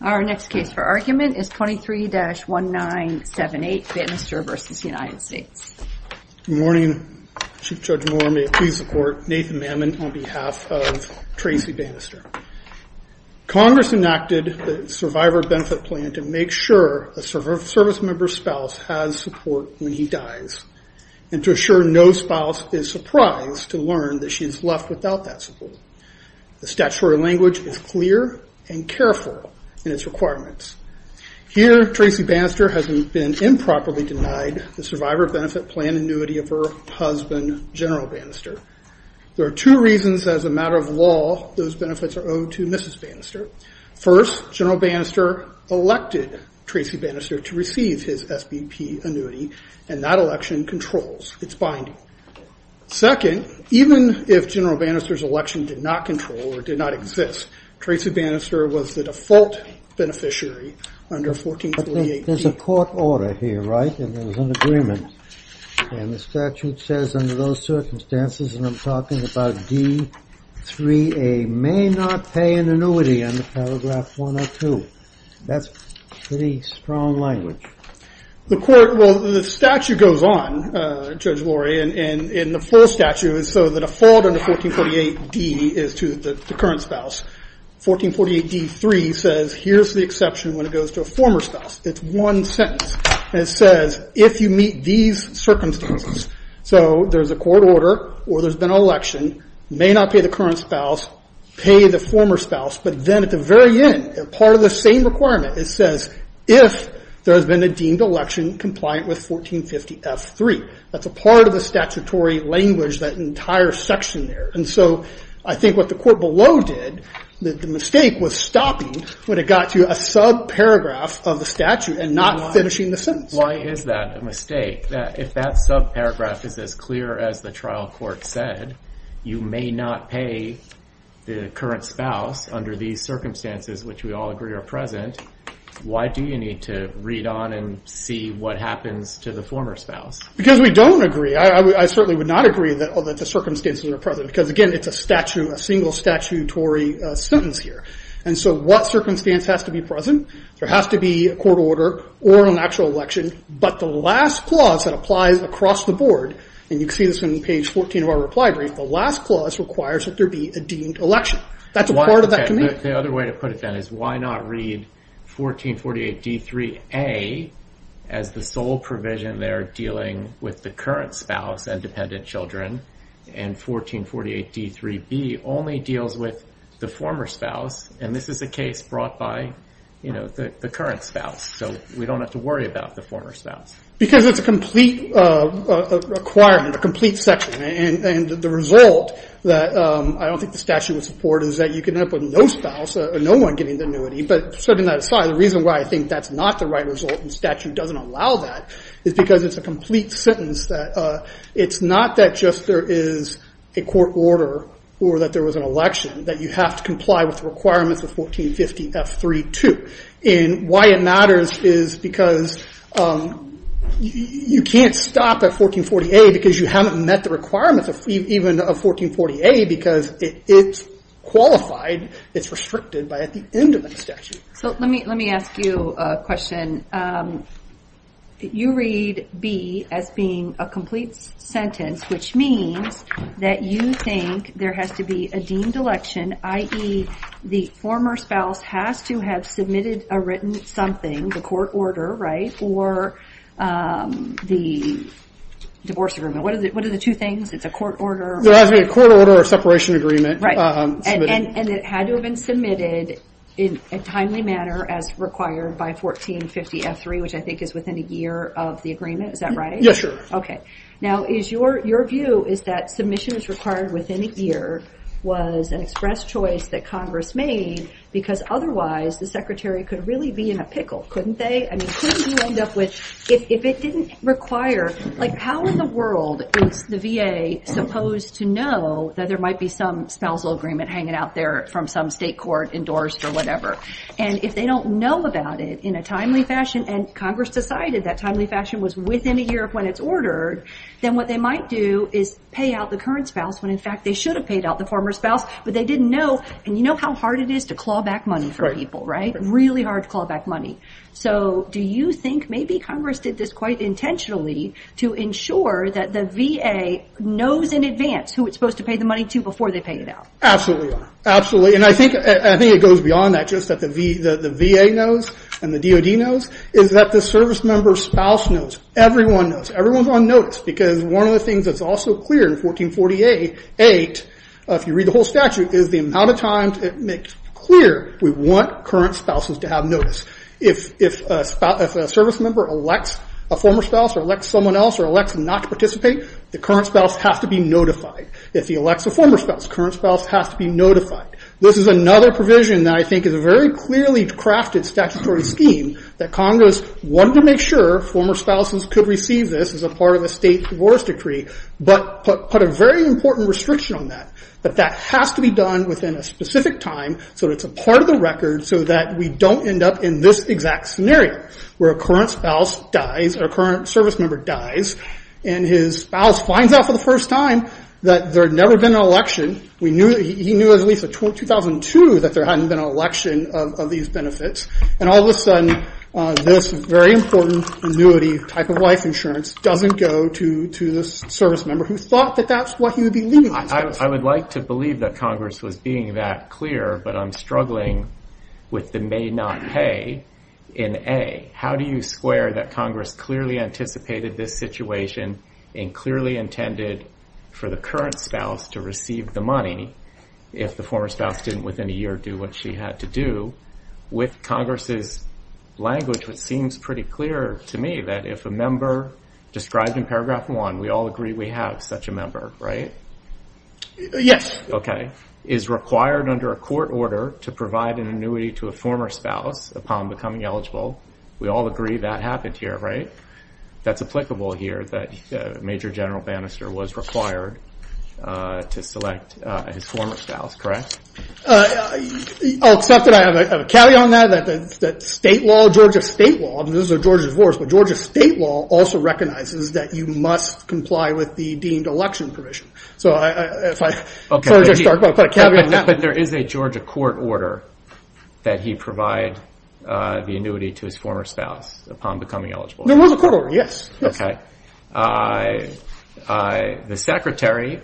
Our next case for argument is 23-1978 Bannister v. United States. Good morning. Chief Judge Moore, may I please support Nathan Mammon on behalf of Tracy Bannister. Congress enacted the Survivor Benefit Plan to make sure a service member's spouse has support when he dies and to assure no spouse is surprised to learn that she is left without that support. The statutory language is clear and careful in its requirements. Here, Tracy Bannister has been improperly denied the Survivor Benefit Plan annuity of her husband, General Bannister. There are two reasons as a matter of law those benefits are owed to Mrs. Bannister. First, General Bannister elected Tracy Bannister to receive his SBP annuity, and that election controls its binding. Second, even if General Bannister's election did not control or did not exist, Tracy Bannister was the default beneficiary under 1438. There's a court order here, right? And there was an agreement. And the statute says under those circumstances, and I'm talking about D-3A, may not pay an annuity on the paragraph 102. That's pretty strong language. The statute goes on, Judge Lurie, and the full statute is so that a fault under 1448-D is to the current spouse. 1448-D-3 says here's the exception when it goes to a former spouse. It's one sentence. It says if you meet these circumstances, so there's a court order or there's been an election, may not pay the current spouse, pay the former spouse, but then at the very end, part of the same requirement, it says if there has been a deemed election compliant with 1450-F-3. That's a part of the statutory language, that entire section there. And so I think what the court below did, the mistake was stopping when it got to a subparagraph of the statute and not finishing the sentence. Why is that a mistake? If that subparagraph is as clear as the trial court said, you may not pay the current spouse under these circumstances, which we all agree are present. Why do you need to read on and see what happens to the former spouse? Because we don't agree. I certainly would not agree that the circumstances are present, because again, it's a single statutory sentence here. And so what circumstance has to be present? There has to be a court order or an actual election, but the last clause that applies across the board, and you can see this on page 14 of our reply brief, the last clause requires that there be a deemed election. That's a part of that. The other way to put it then is why not read 1448-D-3-A as the sole provision they're dealing with the current spouse and dependent children, and 1448-D-3-B only deals with the former spouse, and this is a case brought by the current spouse. So we don't have to worry about the former spouse. Because it's a complete requirement, a complete section, and the result that I don't think the statute would support is that you can end up with no spouse, no one getting the annuity, but setting that aside, the reason why I think that's not the right result and statute doesn't allow that is because it's a complete sentence that it's not that just there is a court order or that there was an election, that you have to comply with the requirements of 1450-F-3-2. Why it matters is because you can't stop at 1440-A because you haven't met the requirements even of 1440-A because it's qualified, it's restricted by at the end of the statute. So let me ask you a question. You read B as being a complete sentence, which means that you think there has to be a deemed election, i.e. the former spouse has to have submitted a written something, the court order, right, or the divorce agreement. What are the two things? It's a court order or a separation agreement. And it had to have been submitted in a timely manner as required by 1450-F-3, which I think is within a year of the agreement, is that right? Okay. Now is your view is that submission is required within a year was an express choice that Congress made because otherwise the secretary could really be in a pickle, couldn't they? I mean, couldn't you end up with, if it didn't require, like how in the world is the VA supposed to know that there might be some spousal agreement hanging out there from some state court endorsed or whatever. And if they don't know about it in a timely fashion and Congress decided that timely when it's ordered, then what they might do is pay out the current spouse when, in fact, they should have paid out the former spouse, but they didn't know. And you know how hard it is to claw back money for people, right? Really hard to claw back money. So do you think maybe Congress did this quite intentionally to ensure that the VA knows in advance who it's supposed to pay the money to before they pay it out? Absolutely. Absolutely. And I think it goes beyond that, that the VA knows and the DOD knows, is that the service member's spouse knows. Everyone knows. Everyone's on notice because one of the things that's also clear in 1448, if you read the whole statute, is the amount of times it makes clear we want current spouses to have notice. If a service member elects a former spouse or elects someone else or elects not to participate, the current spouse has to be notified. If he elects a former spouse, current spouse has to be notified. This is another provision that I think is a very clearly crafted statutory scheme that Congress wanted to make sure former spouses could receive this as a part of a state divorce decree, but put a very important restriction on that. But that has to be done within a specific time so that it's a part of the record so that we don't end up in this exact scenario where a current spouse dies or a current service member dies and his spouse finds out for the first time that there had never been an election. He knew at least in 2002 that there hadn't been an election of these benefits. And all of a sudden, this very important annuity type of life insurance doesn't go to this service member who thought that that's what he would be leaving his spouse with. I would like to believe that Congress was being that clear, but I'm struggling with the may not pay in A. How do you square that Congress clearly anticipated this situation and clearly intended for the current spouse to receive the money if the former spouse didn't within a year do what she had to do with Congress's language, which seems pretty clear to me that if a member described in paragraph one, we all agree we have such a member, right? Yes. Okay. Is required under a court order to provide an annuity to a that's applicable here that Major General Bannister was required to select his former spouse, correct? I'll accept that. I have a caveat on that, that state law, Georgia state law, and those are Georgia's wars, but Georgia state law also recognizes that you must comply with the deemed election provision. So if I start by putting a caveat on that. But there is a Georgia court order that he provide the annuity to his former spouse upon becoming eligible. There was a court order. Yes. Okay. I, I, the secretary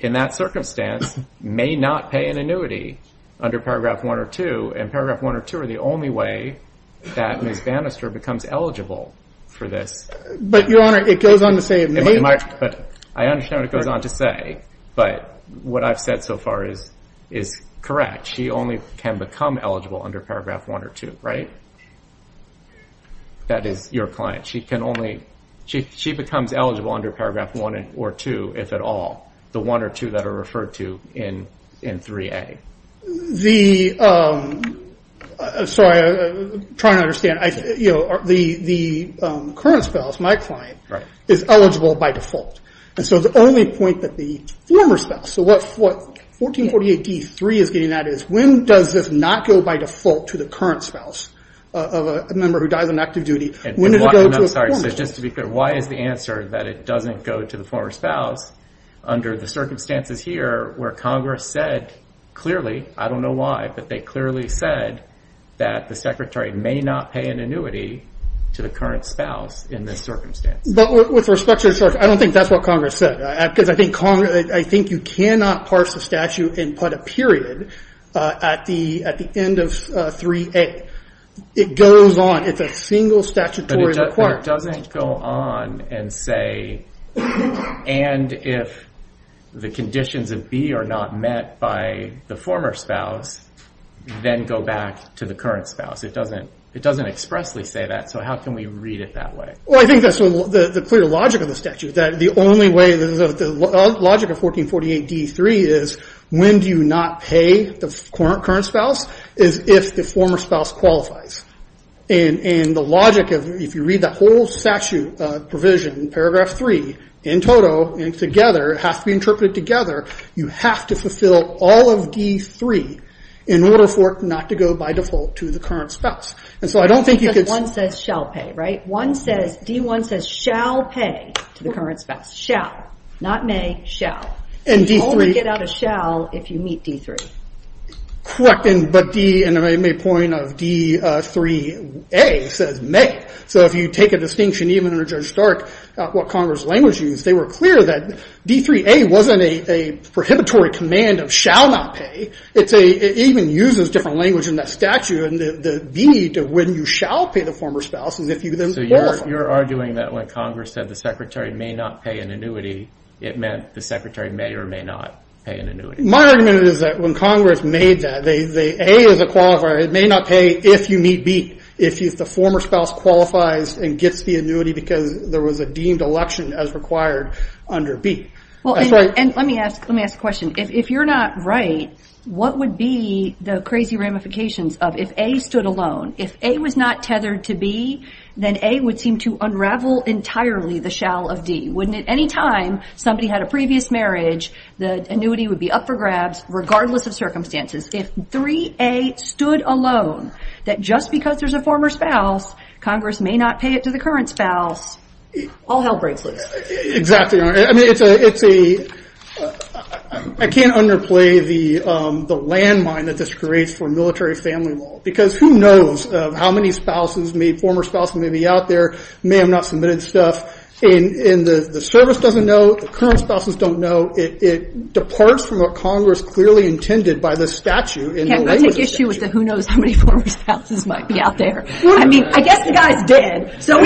in that circumstance may not pay an annuity under paragraph one or two and paragraph one or two are the only way that Miss Bannister becomes eligible for this. But your honor, it goes on to say, but I understand what it goes on to say, but what I've said so far is, is correct. She only can become eligible under paragraph one or two, right? That is your client. She can only, she, she becomes eligible under paragraph one or two, if at all, the one or two that are referred to in, in 3A. The, sorry, I'm trying to understand, I, you know, the, the current spouse, my client, is eligible by default. And so the only point that the former spouse, so what, what 1448 D3 is getting at is, when does this not go by default to the current spouse of a member who dies on active duty? When did it go to a former? I'm sorry. So just to be clear, why is the answer that it doesn't go to the former spouse under the circumstances here where Congress said clearly, I don't know why, but they clearly said that the secretary may not pay an annuity to the current spouse in this circumstance? But with respect to, I don't think that's what Congress said, because I think Congress, I think you cannot parse the statute and put a period at the, at the end of 3A. It goes on. It's a single statutory requirement. But it doesn't go on and say, and if the conditions of B are not met by the former spouse, then go back to the current spouse. It doesn't, it doesn't expressly say that. So how can we read it that way? Well, I think that's the clear logic of the statute, that the only way, the logic of 1448 D3 is, when do you not pay the current spouse, is if the former spouse qualifies. And the logic of, if you read the whole statute provision in paragraph three in toto, and together, it has to be interpreted together, you have to fulfill all of D3 in order for it not to go by default to the current spouse. And so I don't think you could- One says, D1 says, shall pay to the current spouse. Shall, not may, shall. And D3- You only get out a shall if you meet D3. Correct. And, but D, and I made a point of D3A says may. So if you take a distinction, even under Judge Stark, what Congress language used, they were clear that D3A wasn't a, a prohibitory command of shall not pay. It's a, it even uses different language in that statute, the need of when you shall pay the former spouse is if you then qualify. You're arguing that when Congress said the secretary may not pay an annuity, it meant the secretary may or may not pay an annuity. My argument is that when Congress made that, they, they, A is a qualifier. It may not pay if you meet B. If you, if the former spouse qualifies and gets the annuity because there was a deemed election as required under B. Well, and let me ask, let me ask a question. If you're not right, what would be the crazy ramifications of if A stood alone, if A was not tethered to B, then A would seem to unravel entirely the shall of D. Wouldn't it? Any time somebody had a previous marriage, the annuity would be up for grabs, regardless of circumstances. If 3A stood alone, that just because there's a former spouse, Congress may not pay it to the current spouse, all hell breaks loose. Exactly. I mean, it's a, it's a, I can't underplay the, um, the landmine that this creates for military family law, because who knows how many spouses may, former spouses may be out there, may have not submitted stuff, and, and the service doesn't know, the current spouses don't know. It, it departs from what Congress clearly intended by the statute. Yeah, that's the issue with the who knows how many former spouses might be out there. I mean, I guess the guy's dead. So,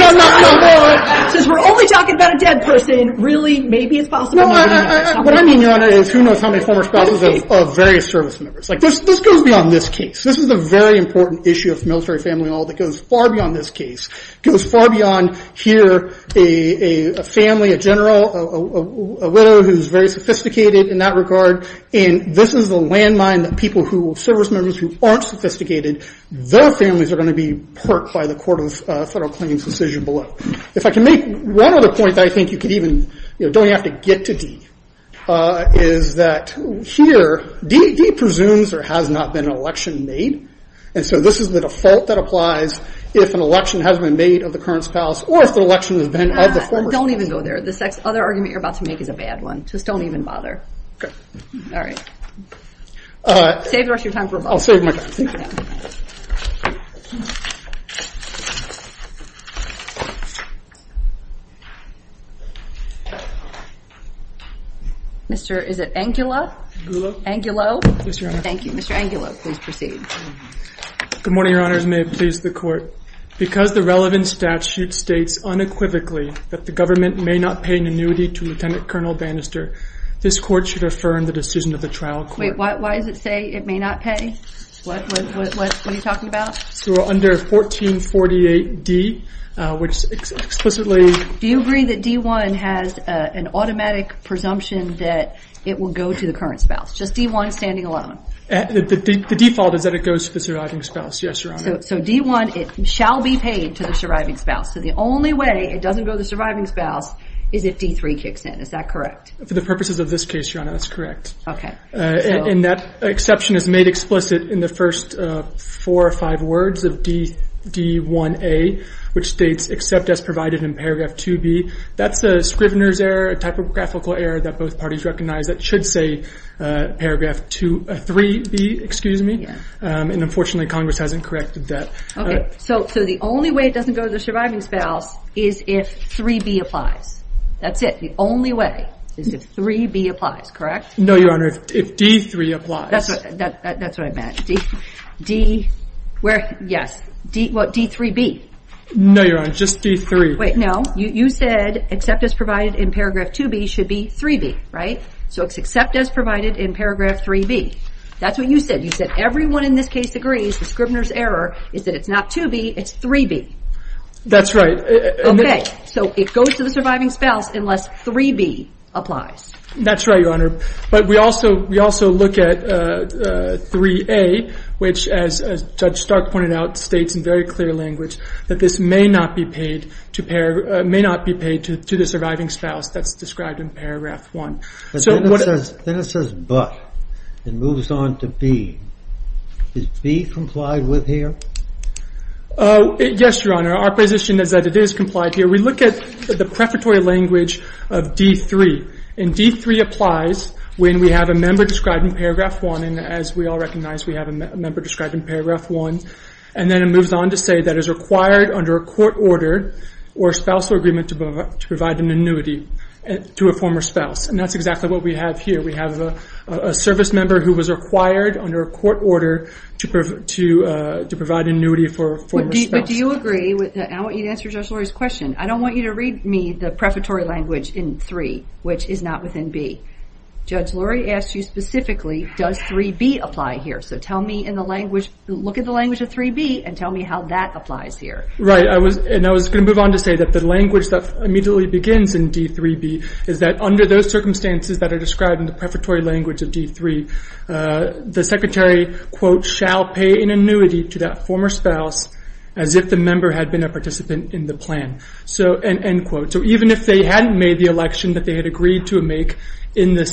since we're only talking about a dead person, really, maybe it's possible. What I mean, Yolanda, is who knows how many former spouses of various service members, like this, this goes beyond this case. This is a very important issue of military family law that goes far beyond this case, goes far beyond here, a family, a general, a widow who's very sophisticated in that regard. And this is the landmine that people who, service members who aren't sophisticated, their families are going to be perked by the Court of Federal Claims decision below. If I can make one other point that I think you could even, you know, don't even have to get to D, is that here, D, D presumes there has not been an election made. And so this is the default that applies if an election has been made of the current spouse, or if the election has been of the former spouse. Don't even go there. This next other argument you're about to make is a bad one. Just save the rest of your time for a moment. I'll save my time. Mr. is it Angulo? Angulo. Mr. Angulo. Thank you. Mr. Angulo, please proceed. Good morning, Your Honors. May it please the Court. Because the relevant statute states unequivocally that the government may not pay an annuity to Lieutenant Colonel Bannister, this Court should affirm the decision of the trial court. Wait, why does it say it may not pay? What are you talking about? So under 1448 D, which explicitly... Do you agree that D1 has an automatic presumption that it will go to the current spouse? Just D1 standing alone? The default is that it goes to the surviving spouse, yes, Your Honor. So D1, it shall be paid to the surviving spouse. So the only way it doesn't go to the surviving spouse is if D3 kicks in, is that correct? For the purposes of this case, Your Honor, that's correct. Okay. And that exception is made explicit in the first four or five words of D1A, which states, except as provided in paragraph 2B. That's a Scrivener's error, a typographical error that both parties recognize that should say paragraph 3B, excuse me. And unfortunately, Congress hasn't corrected that. Okay. So the only way it doesn't go to the surviving spouse is if 3B applies. That's it. The only way is if 3B applies, correct? No, Your Honor. If D3 applies. That's what I meant. D3B. No, Your Honor, just D3. Wait, no. You said except as provided in paragraph 2B should be 3B, right? So except as provided in paragraph 3B. That's what you said. You said everyone in this case agrees the Scrivener's error is that D3B should go to the surviving spouse. It's not 2B, it's 3B. That's right. Okay. So it goes to the surviving spouse unless 3B applies. That's right, Your Honor. But we also look at 3A, which as Judge Stark pointed out, states in very clear language that this may not be paid to the surviving spouse. That's described in paragraph 1. But then it says but and moves on to be. Is be complied with here? Yes, Your Honor. Our position is that it is complied here. We look at the preparatory language of D3. And D3 applies when we have a member described in paragraph 1. And as we all recognize, we have a member described in paragraph 1. And then it moves on to say that it is required under a court order or a spousal agreement to provide an annuity to a former spouse. And that's exactly what we have here. We have a service member who was required under a court order to provide an annuity for a former spouse. But do you agree with that? I want you to answer Judge Lurie's question. I don't want you to read me the preparatory language in 3, which is not within B. Judge Lurie asked you specifically, does 3B apply here? So tell me in the language, look at the language of 3B and tell me how that applies here. Right. And I was going to move on to say that the language that immediately begins in D3B is that under those circumstances that are described in the preparatory language of D3, the secretary, quote, shall pay an annuity to that former spouse as if the member had been a participant in the plan. So, end quote. So even if they hadn't made the election that they had agreed to make in the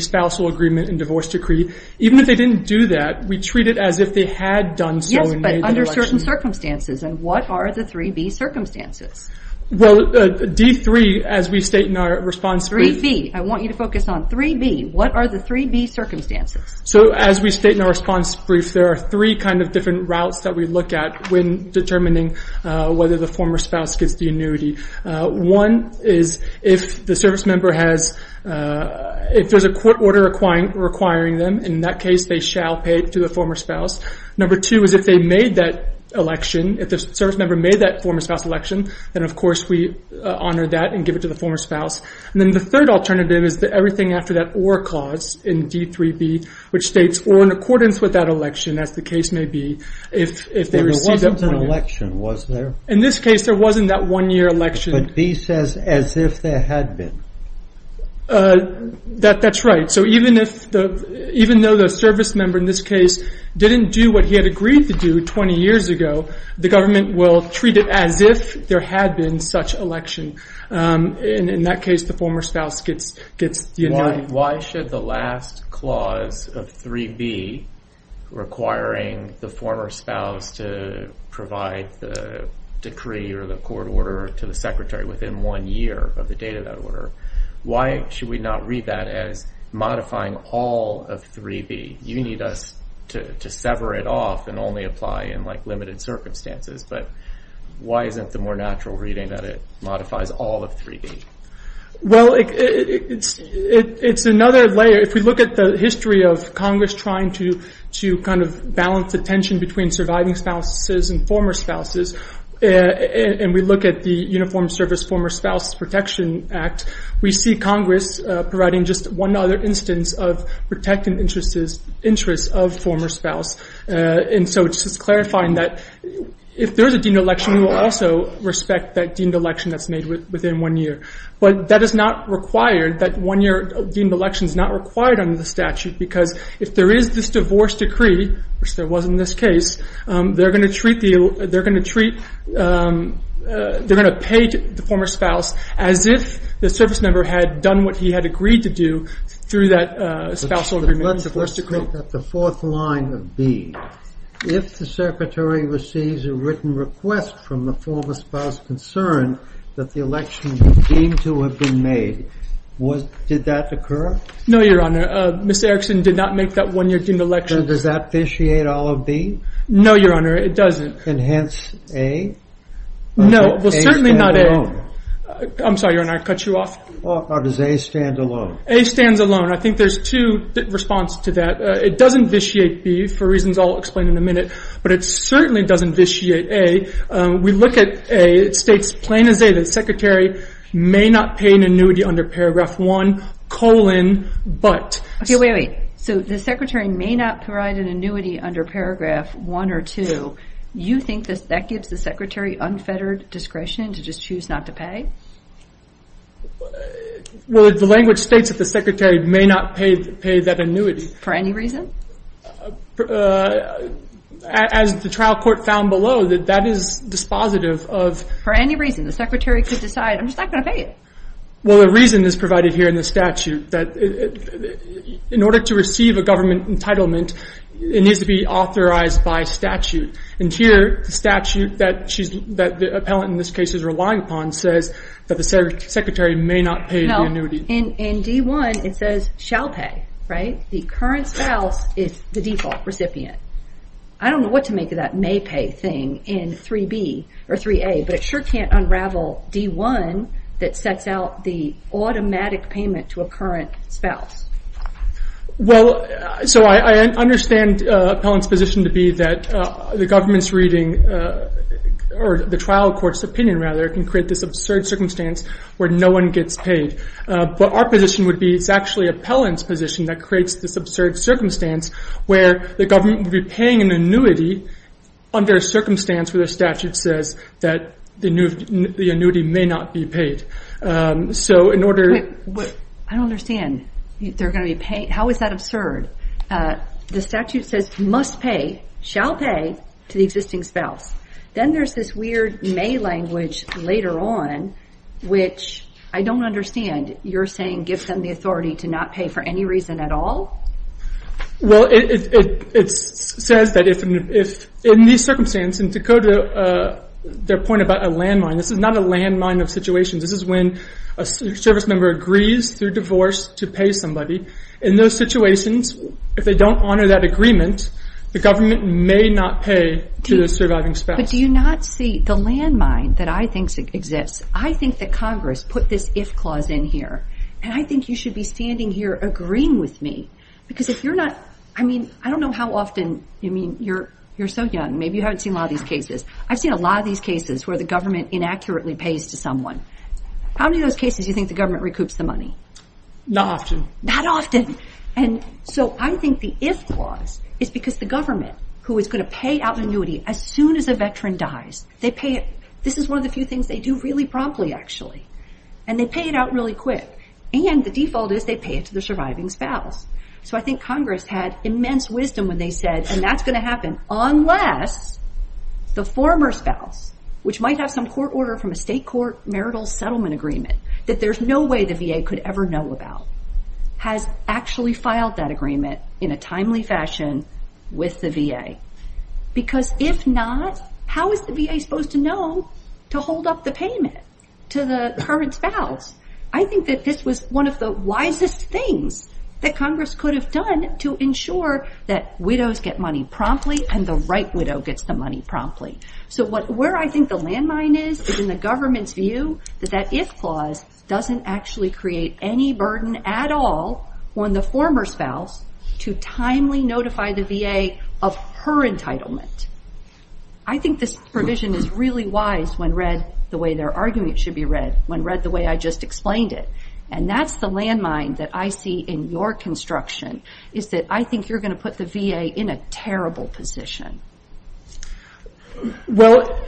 spousal agreement and divorce decree, even if they didn't do that, we treat it as if they had done so and made the election. Under certain circumstances. And what are the 3B circumstances? Well, D3, as we state in our response brief... 3B. I want you to focus on 3B. What are the 3B circumstances? So as we state in our response brief, there are three different routes that we look at when determining whether the former spouse gets the annuity. One is if the service member has, if there's a court order requiring them, in that case they shall pay to the former spouse. Number two is if they made that election, if the service member made that former spouse election, then of course we honor that and give it to the former spouse. And then the third alternative is that everything after that or clause in D3B, which states, or in accordance with that election, as the case may be, if they received that one... But there wasn't an election, was there? In this case, there wasn't that one-year election. But B says, as if there had been. That's right. So even if, even though the service member in this case didn't do what he had agreed to do 20 years ago, the government will treat it as if there had been such election. In that case, the former spouse gets the annuity. Why should we not read that as modifying all of 3B? You need us to sever it off and only apply in limited circumstances. But why isn't the more natural reading that it modifies all of 3B? Well, it's another layer. If we look at the history of Congress trying to kind of balance the tension between surviving spouses and former spouses, and we look at the Uniformed Service Former Spouse Protection Act, we see Congress providing just one other instance of protecting interests of former spouse. And so it's just clarifying that if there's a deemed election, we will also respect that deemed election that's made within one year. But that is not required, that one-year deemed election is not required under the statute, because if there is this divorce decree, which there was in this case, they're going to treat, they're going to pay the former spouse as if the service member had done what he had agreed to do through that spousal agreement. Let's look at the fourth line of B. If the secretary receives a written request from the former spouse concerned that the election was deemed to have been made, did that occur? No, Your Honor. Ms. Erickson did not make that one-year deemed election. Does that officiate all of B? No, Your Honor, it doesn't. And hence, A? No, well certainly not A. I'm sorry, Your Honor, I cut you off. Or does A stand alone? A stands alone. I think there's two responses to that. It doesn't vitiate B, for reasons I'll explain in a minute, but it certainly doesn't vitiate A. We look at A, it states plain as day that the secretary may not pay an annuity under paragraph 1, colon, but. Okay, wait, wait. So the secretary may not provide an annuity under paragraph 1 or 2. You think that gives the secretary unfettered discretion to just choose not to pay? Well, the language states that the secretary may not pay that annuity. For any reason? As the trial court found below, that that is dispositive of. For any reason, the secretary could decide, I'm just not going to pay it. Well, a reason is provided here in the statute, that in order to receive a government entitlement, it needs to be authorized by statute. And here, the statute that the appellant in this case is relying upon says that the secretary may not pay the annuity. No, in D1, it says shall pay, right? The current spouse is the default recipient. I don't know what to make of that may pay thing in 3B or 3A, but it sure can't unravel D1 that sets out the automatic payment to a current spouse. Well, so I understand appellant's position to be that the government's reading, or the trial court's opinion rather, can create this absurd circumstance where no one gets paid. But our position would be it's actually appellant's position that creates this absurd circumstance where the government would be paying an annuity under a circumstance where the statute says that the annuity may not be paid. I don't understand. How is that absurd? The statute says must pay, shall pay to the existing spouse. Then there's this weird may language later on, which I don't understand. You're saying give them the authority to not pay for any reason at all? Well, it says that in these circumstances, to go to their point about a landmine, this is not a landmine of situations. This is when a service member agrees through divorce to pay somebody. In those situations, if they don't honor that agreement, the government may not pay to the surviving spouse. But do you not see the landmine that I think exists? I think that Congress put this if clause in here, and I think you should be standing here agreeing with me. Because if you're not, I mean, I don't know how often, I mean, you're so young, maybe you haven't seen a lot of these cases. I've seen a lot of these cases where the government inaccurately pays to someone. How many of those cases do you think the government recoups the money? Not often. Not often. And so I think the if clause is because the government, who is going to pay out an annuity as soon as a veteran dies, this is one of the few things they do really promptly, actually. And they pay it out really quick. And the default is they pay it to the surviving spouse. So I think Congress had immense wisdom when they said, and that's going to happen unless the former spouse, which might have some court order from a state court marital settlement agreement that there's no way the VA could ever know about, has actually filed that agreement in a timely fashion with the VA. Because if not, how is the VA supposed to know to hold up the payment to the current spouse? I think that this was one of the wisest things that Congress could have done to ensure that widows get money promptly and the right widow gets the money promptly. So where I think the landmine is is in the government's view that that if clause doesn't actually create any burden at all on the former spouse to timely notify the VA of her entitlement. I think this provision is really wise when read the way their argument should be read, when read the way I just explained it. And that's the landmine that I see in your construction is that I think you're going to put the VA in a terrible position. Well,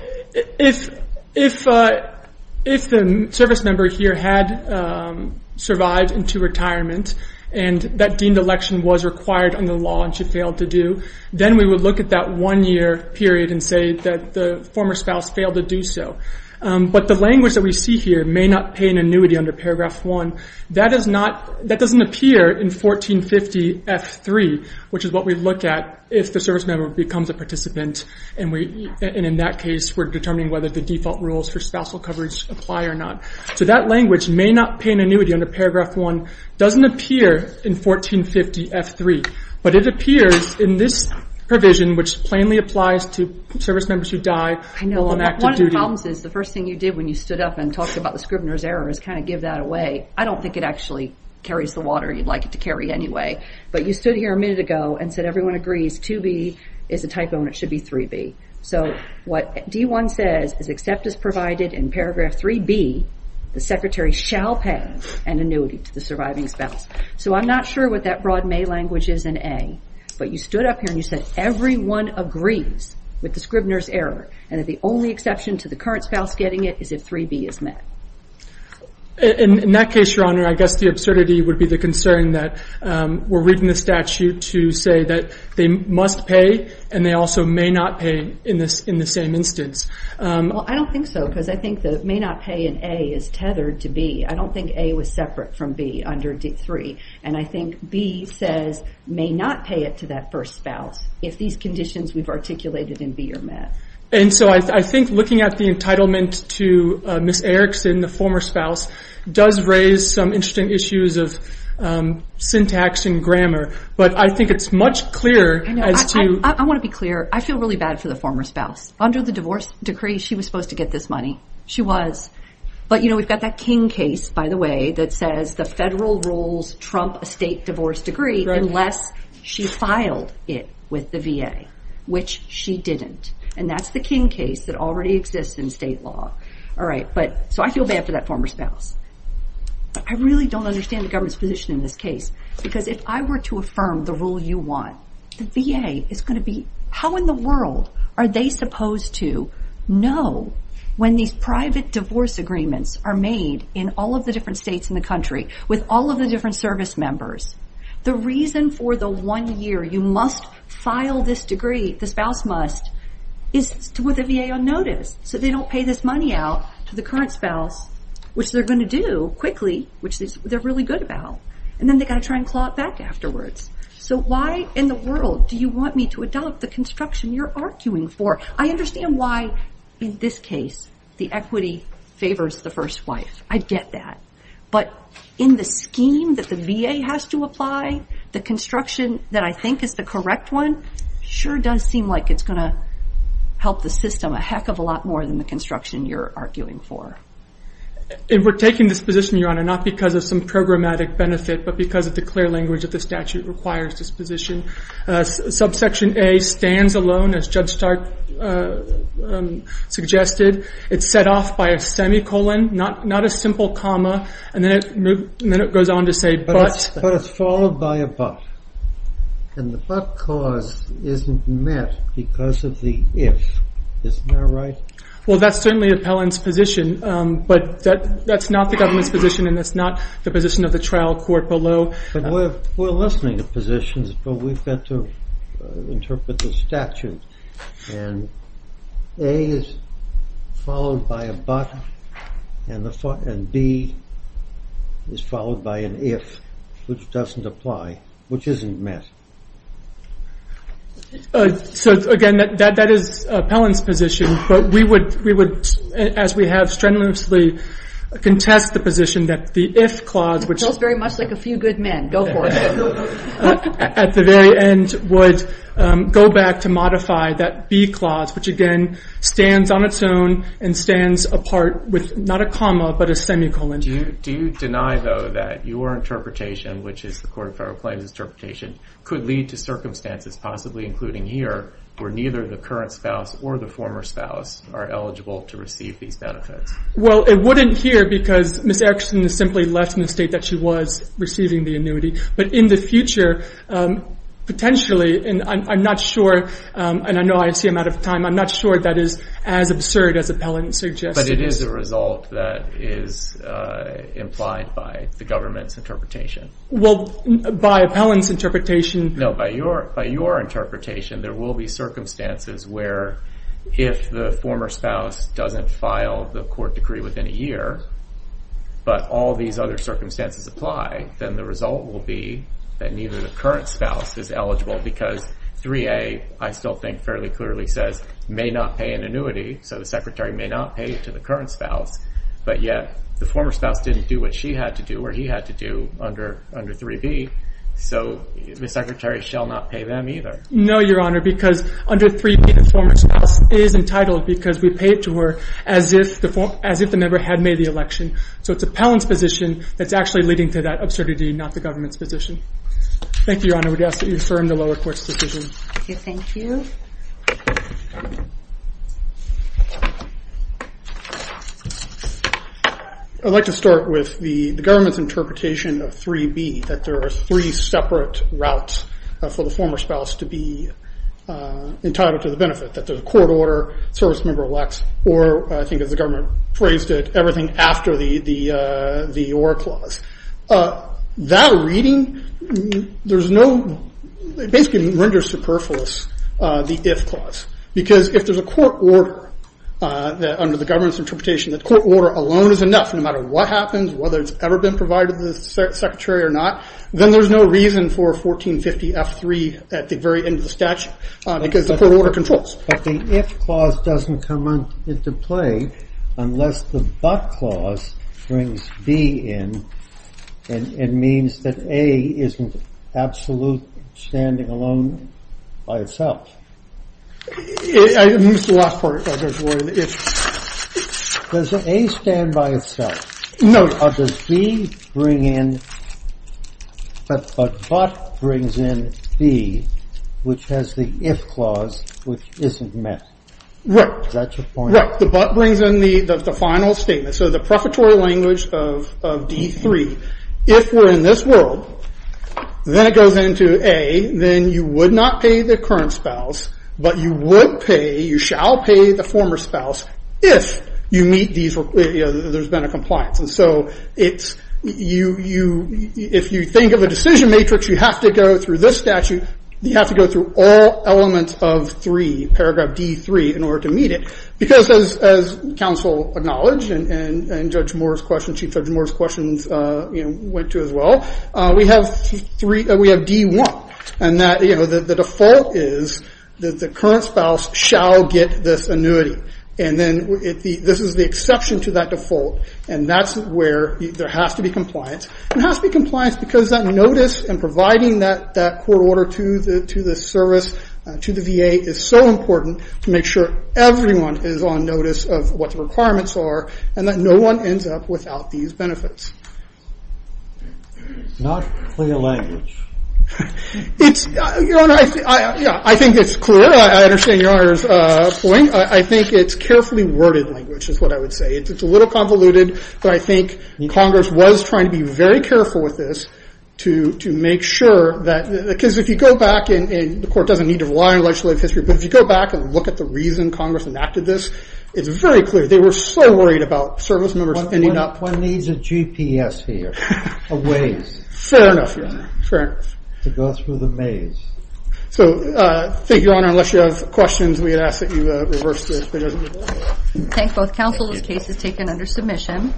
if the service member here had survived into retirement and that deemed election was required under the law and she failed to do, then we would look at that one year period and say that the former spouse failed to do so. But the language that we see here, may not pay an annuity under paragraph one, that doesn't appear in 1450F3, which is what we look at if the service member becomes a participant. And in that case, we're determining whether the default rules for spousal coverage apply or not. So that language, may not pay an annuity under paragraph one, doesn't appear in 1450F3. But it appears in this provision, which plainly applies to service members who die while on active duty. One of your problems is the first thing you did when you stood up and talked about the Scribner's error is kind of give that away. I don't think it actually carries the water you'd like it to carry anyway. But you stood here a minute ago and said everyone agrees 2B is a type O and it should be 3B. So what D1 says is except as provided in paragraph 3B, the secretary shall pay an annuity to the surviving spouse. So I'm not sure what that broad may language is in A, but you stood up here and you said everyone agrees with the Scribner's error and that the only exception to the current spouse getting it is if 3B is met. In that case, Your Honor, I guess the absurdity would be the concern that we're reading the statute to say that they must pay and they also may not pay in the same instance. Well, I don't think so because I think the may not pay in A is tethered to B. I don't think A was separate from B under D3. And I think B says may not pay it to that first spouse if these conditions we've articulated in B are met. And so I think looking at the entitlement to Ms. Erickson, the former spouse, does raise some interesting issues of syntax and grammar. But I think it's much clearer as to... I want to be clear. I feel really bad for the former spouse. Under the divorce decree, she was supposed to get this money. She was. But, you know, we've got that King case, by the way, that says the federal rules trump a state divorce decree unless she filed it with the VA, which she didn't. And that's the King case that already exists in state law. All right, so I feel bad for that former spouse. I really don't understand the government's position in this case because if I were to affirm the rule you want, the VA is going to be... Are they supposed to know when these private divorce agreements are made in all of the different states in the country with all of the different service members? The reason for the one year you must file this decree, the spouse must, is with the VA on notice so they don't pay this money out to the current spouse, which they're going to do quickly, which they're really good about. And then they've got to try and claw it back afterwards. So why in the world do you want me to adopt the construction you're arguing for? I understand why, in this case, the equity favors the first wife. I get that. But in the scheme that the VA has to apply, the construction that I think is the correct one sure does seem like it's going to help the system a heck of a lot more than the construction you're arguing for. We're taking this position, Your Honor, not because of some programmatic benefit but because of the clear language that the statute requires this position. Subsection A stands alone, as Judge Stark suggested. It's set off by a semicolon, not a simple comma, and then it goes on to say but. But it's followed by a but. And the but clause isn't met because of the if. Isn't that right? Well, that's certainly Appellant's position, but that's not the government's position and that's not the position of the trial court below. We're listening to positions, but we've got to interpret the statute. And A is followed by a but, and B is followed by an if, which doesn't apply, which isn't met. So, again, that is Appellant's position. But we would, as we have, strenuously contest the position that the if clause, which feels very much like a few good men, go for it, at the very end would go back to modify that B clause, which, again, stands on its own and stands apart with not a comma but a semicolon. Do you deny, though, that your interpretation, which is the Court of Federal Claims' interpretation, could lead to circumstances, possibly including here, where neither the current spouse or the former spouse are eligible to receive these benefits? Well, it wouldn't here because Ms. Erickson is simply left in the state that she was receiving the annuity. But in the future, potentially, and I'm not sure, and I know I see him out of time, I'm not sure that is as absurd as Appellant suggests it is. But it is a result that is implied by the government's interpretation. Well, by Appellant's interpretation. No, by your interpretation, there will be circumstances where, if the former spouse doesn't file the court decree within a year, but all these other circumstances apply, then the result will be that neither the current spouse is eligible because 3A, I still think fairly clearly says, may not pay an annuity, so the secretary may not pay to the current spouse, but yet the former spouse didn't do what she had to do or he had to do under 3B. So the secretary shall not pay them either. No, Your Honor, because under 3B, the former spouse is entitled because we pay it to her as if the member had made the election. So it's Appellant's position that's actually leading to that absurdity, not the government's position. Thank you, Your Honor. I would ask that you affirm the lower court's decision. Thank you. I'd like to start with the government's interpretation of 3B, that there are three separate routes for the former spouse to be entitled to the benefit, that there's a court order, service member elects, or I think as the government phrased it, everything after the Orr Clause. That reading basically renders superfluous the If Clause, because if there's a court order under the government's interpretation, that court order alone is enough no matter what happens, whether it's ever been provided to the secretary or not, then there's no reason for 1450 F3 at the very end of the statute, because the court order controls. But the If Clause doesn't come into play unless the But Clause brings B in and means that A isn't absolutely standing alone by itself. Does A stand by itself? No. Does B bring in... But brings in B, which has the If Clause, which isn't met. Is that your point? Right. The But brings in the final statement. So the prefatory language of D3, if we're in this world, then it goes into A, then you would not pay the current spouse, but you would pay, you shall pay the former spouse, if there's been a compliance. And so if you think of a decision matrix, you have to go through this statute, you have to go through all elements of 3, paragraph D3, in order to meet it. Because as counsel acknowledged and Chief Judge Moore's questions went to as well, we have D1, and the default is that the current spouse shall get this annuity. And then this is the exception to that default, and that's where there has to be compliance. It has to be compliance because that notice and providing that court order to the service, to the VA, is so important to make sure everyone is on notice of what the requirements are, and that no one ends up without these benefits. It's not clear language. I think it's clear. I understand your Honor's point. I think it's carefully worded language, is what I would say. It's a little convoluted, but I think Congress was trying to be very careful with this to make sure that, because if you go back, and the court doesn't need to rely on legislative history, but if you go back and look at the reason Congress enacted this, it's very clear. They were so worried about service members ending up. One needs a GPS here, a Waze. Fair enough, Your Honor. To go through the maze. So thank you, Your Honor. Unless you have questions, we ask that you reverse this. Thank both counsel. This case is taken under submission.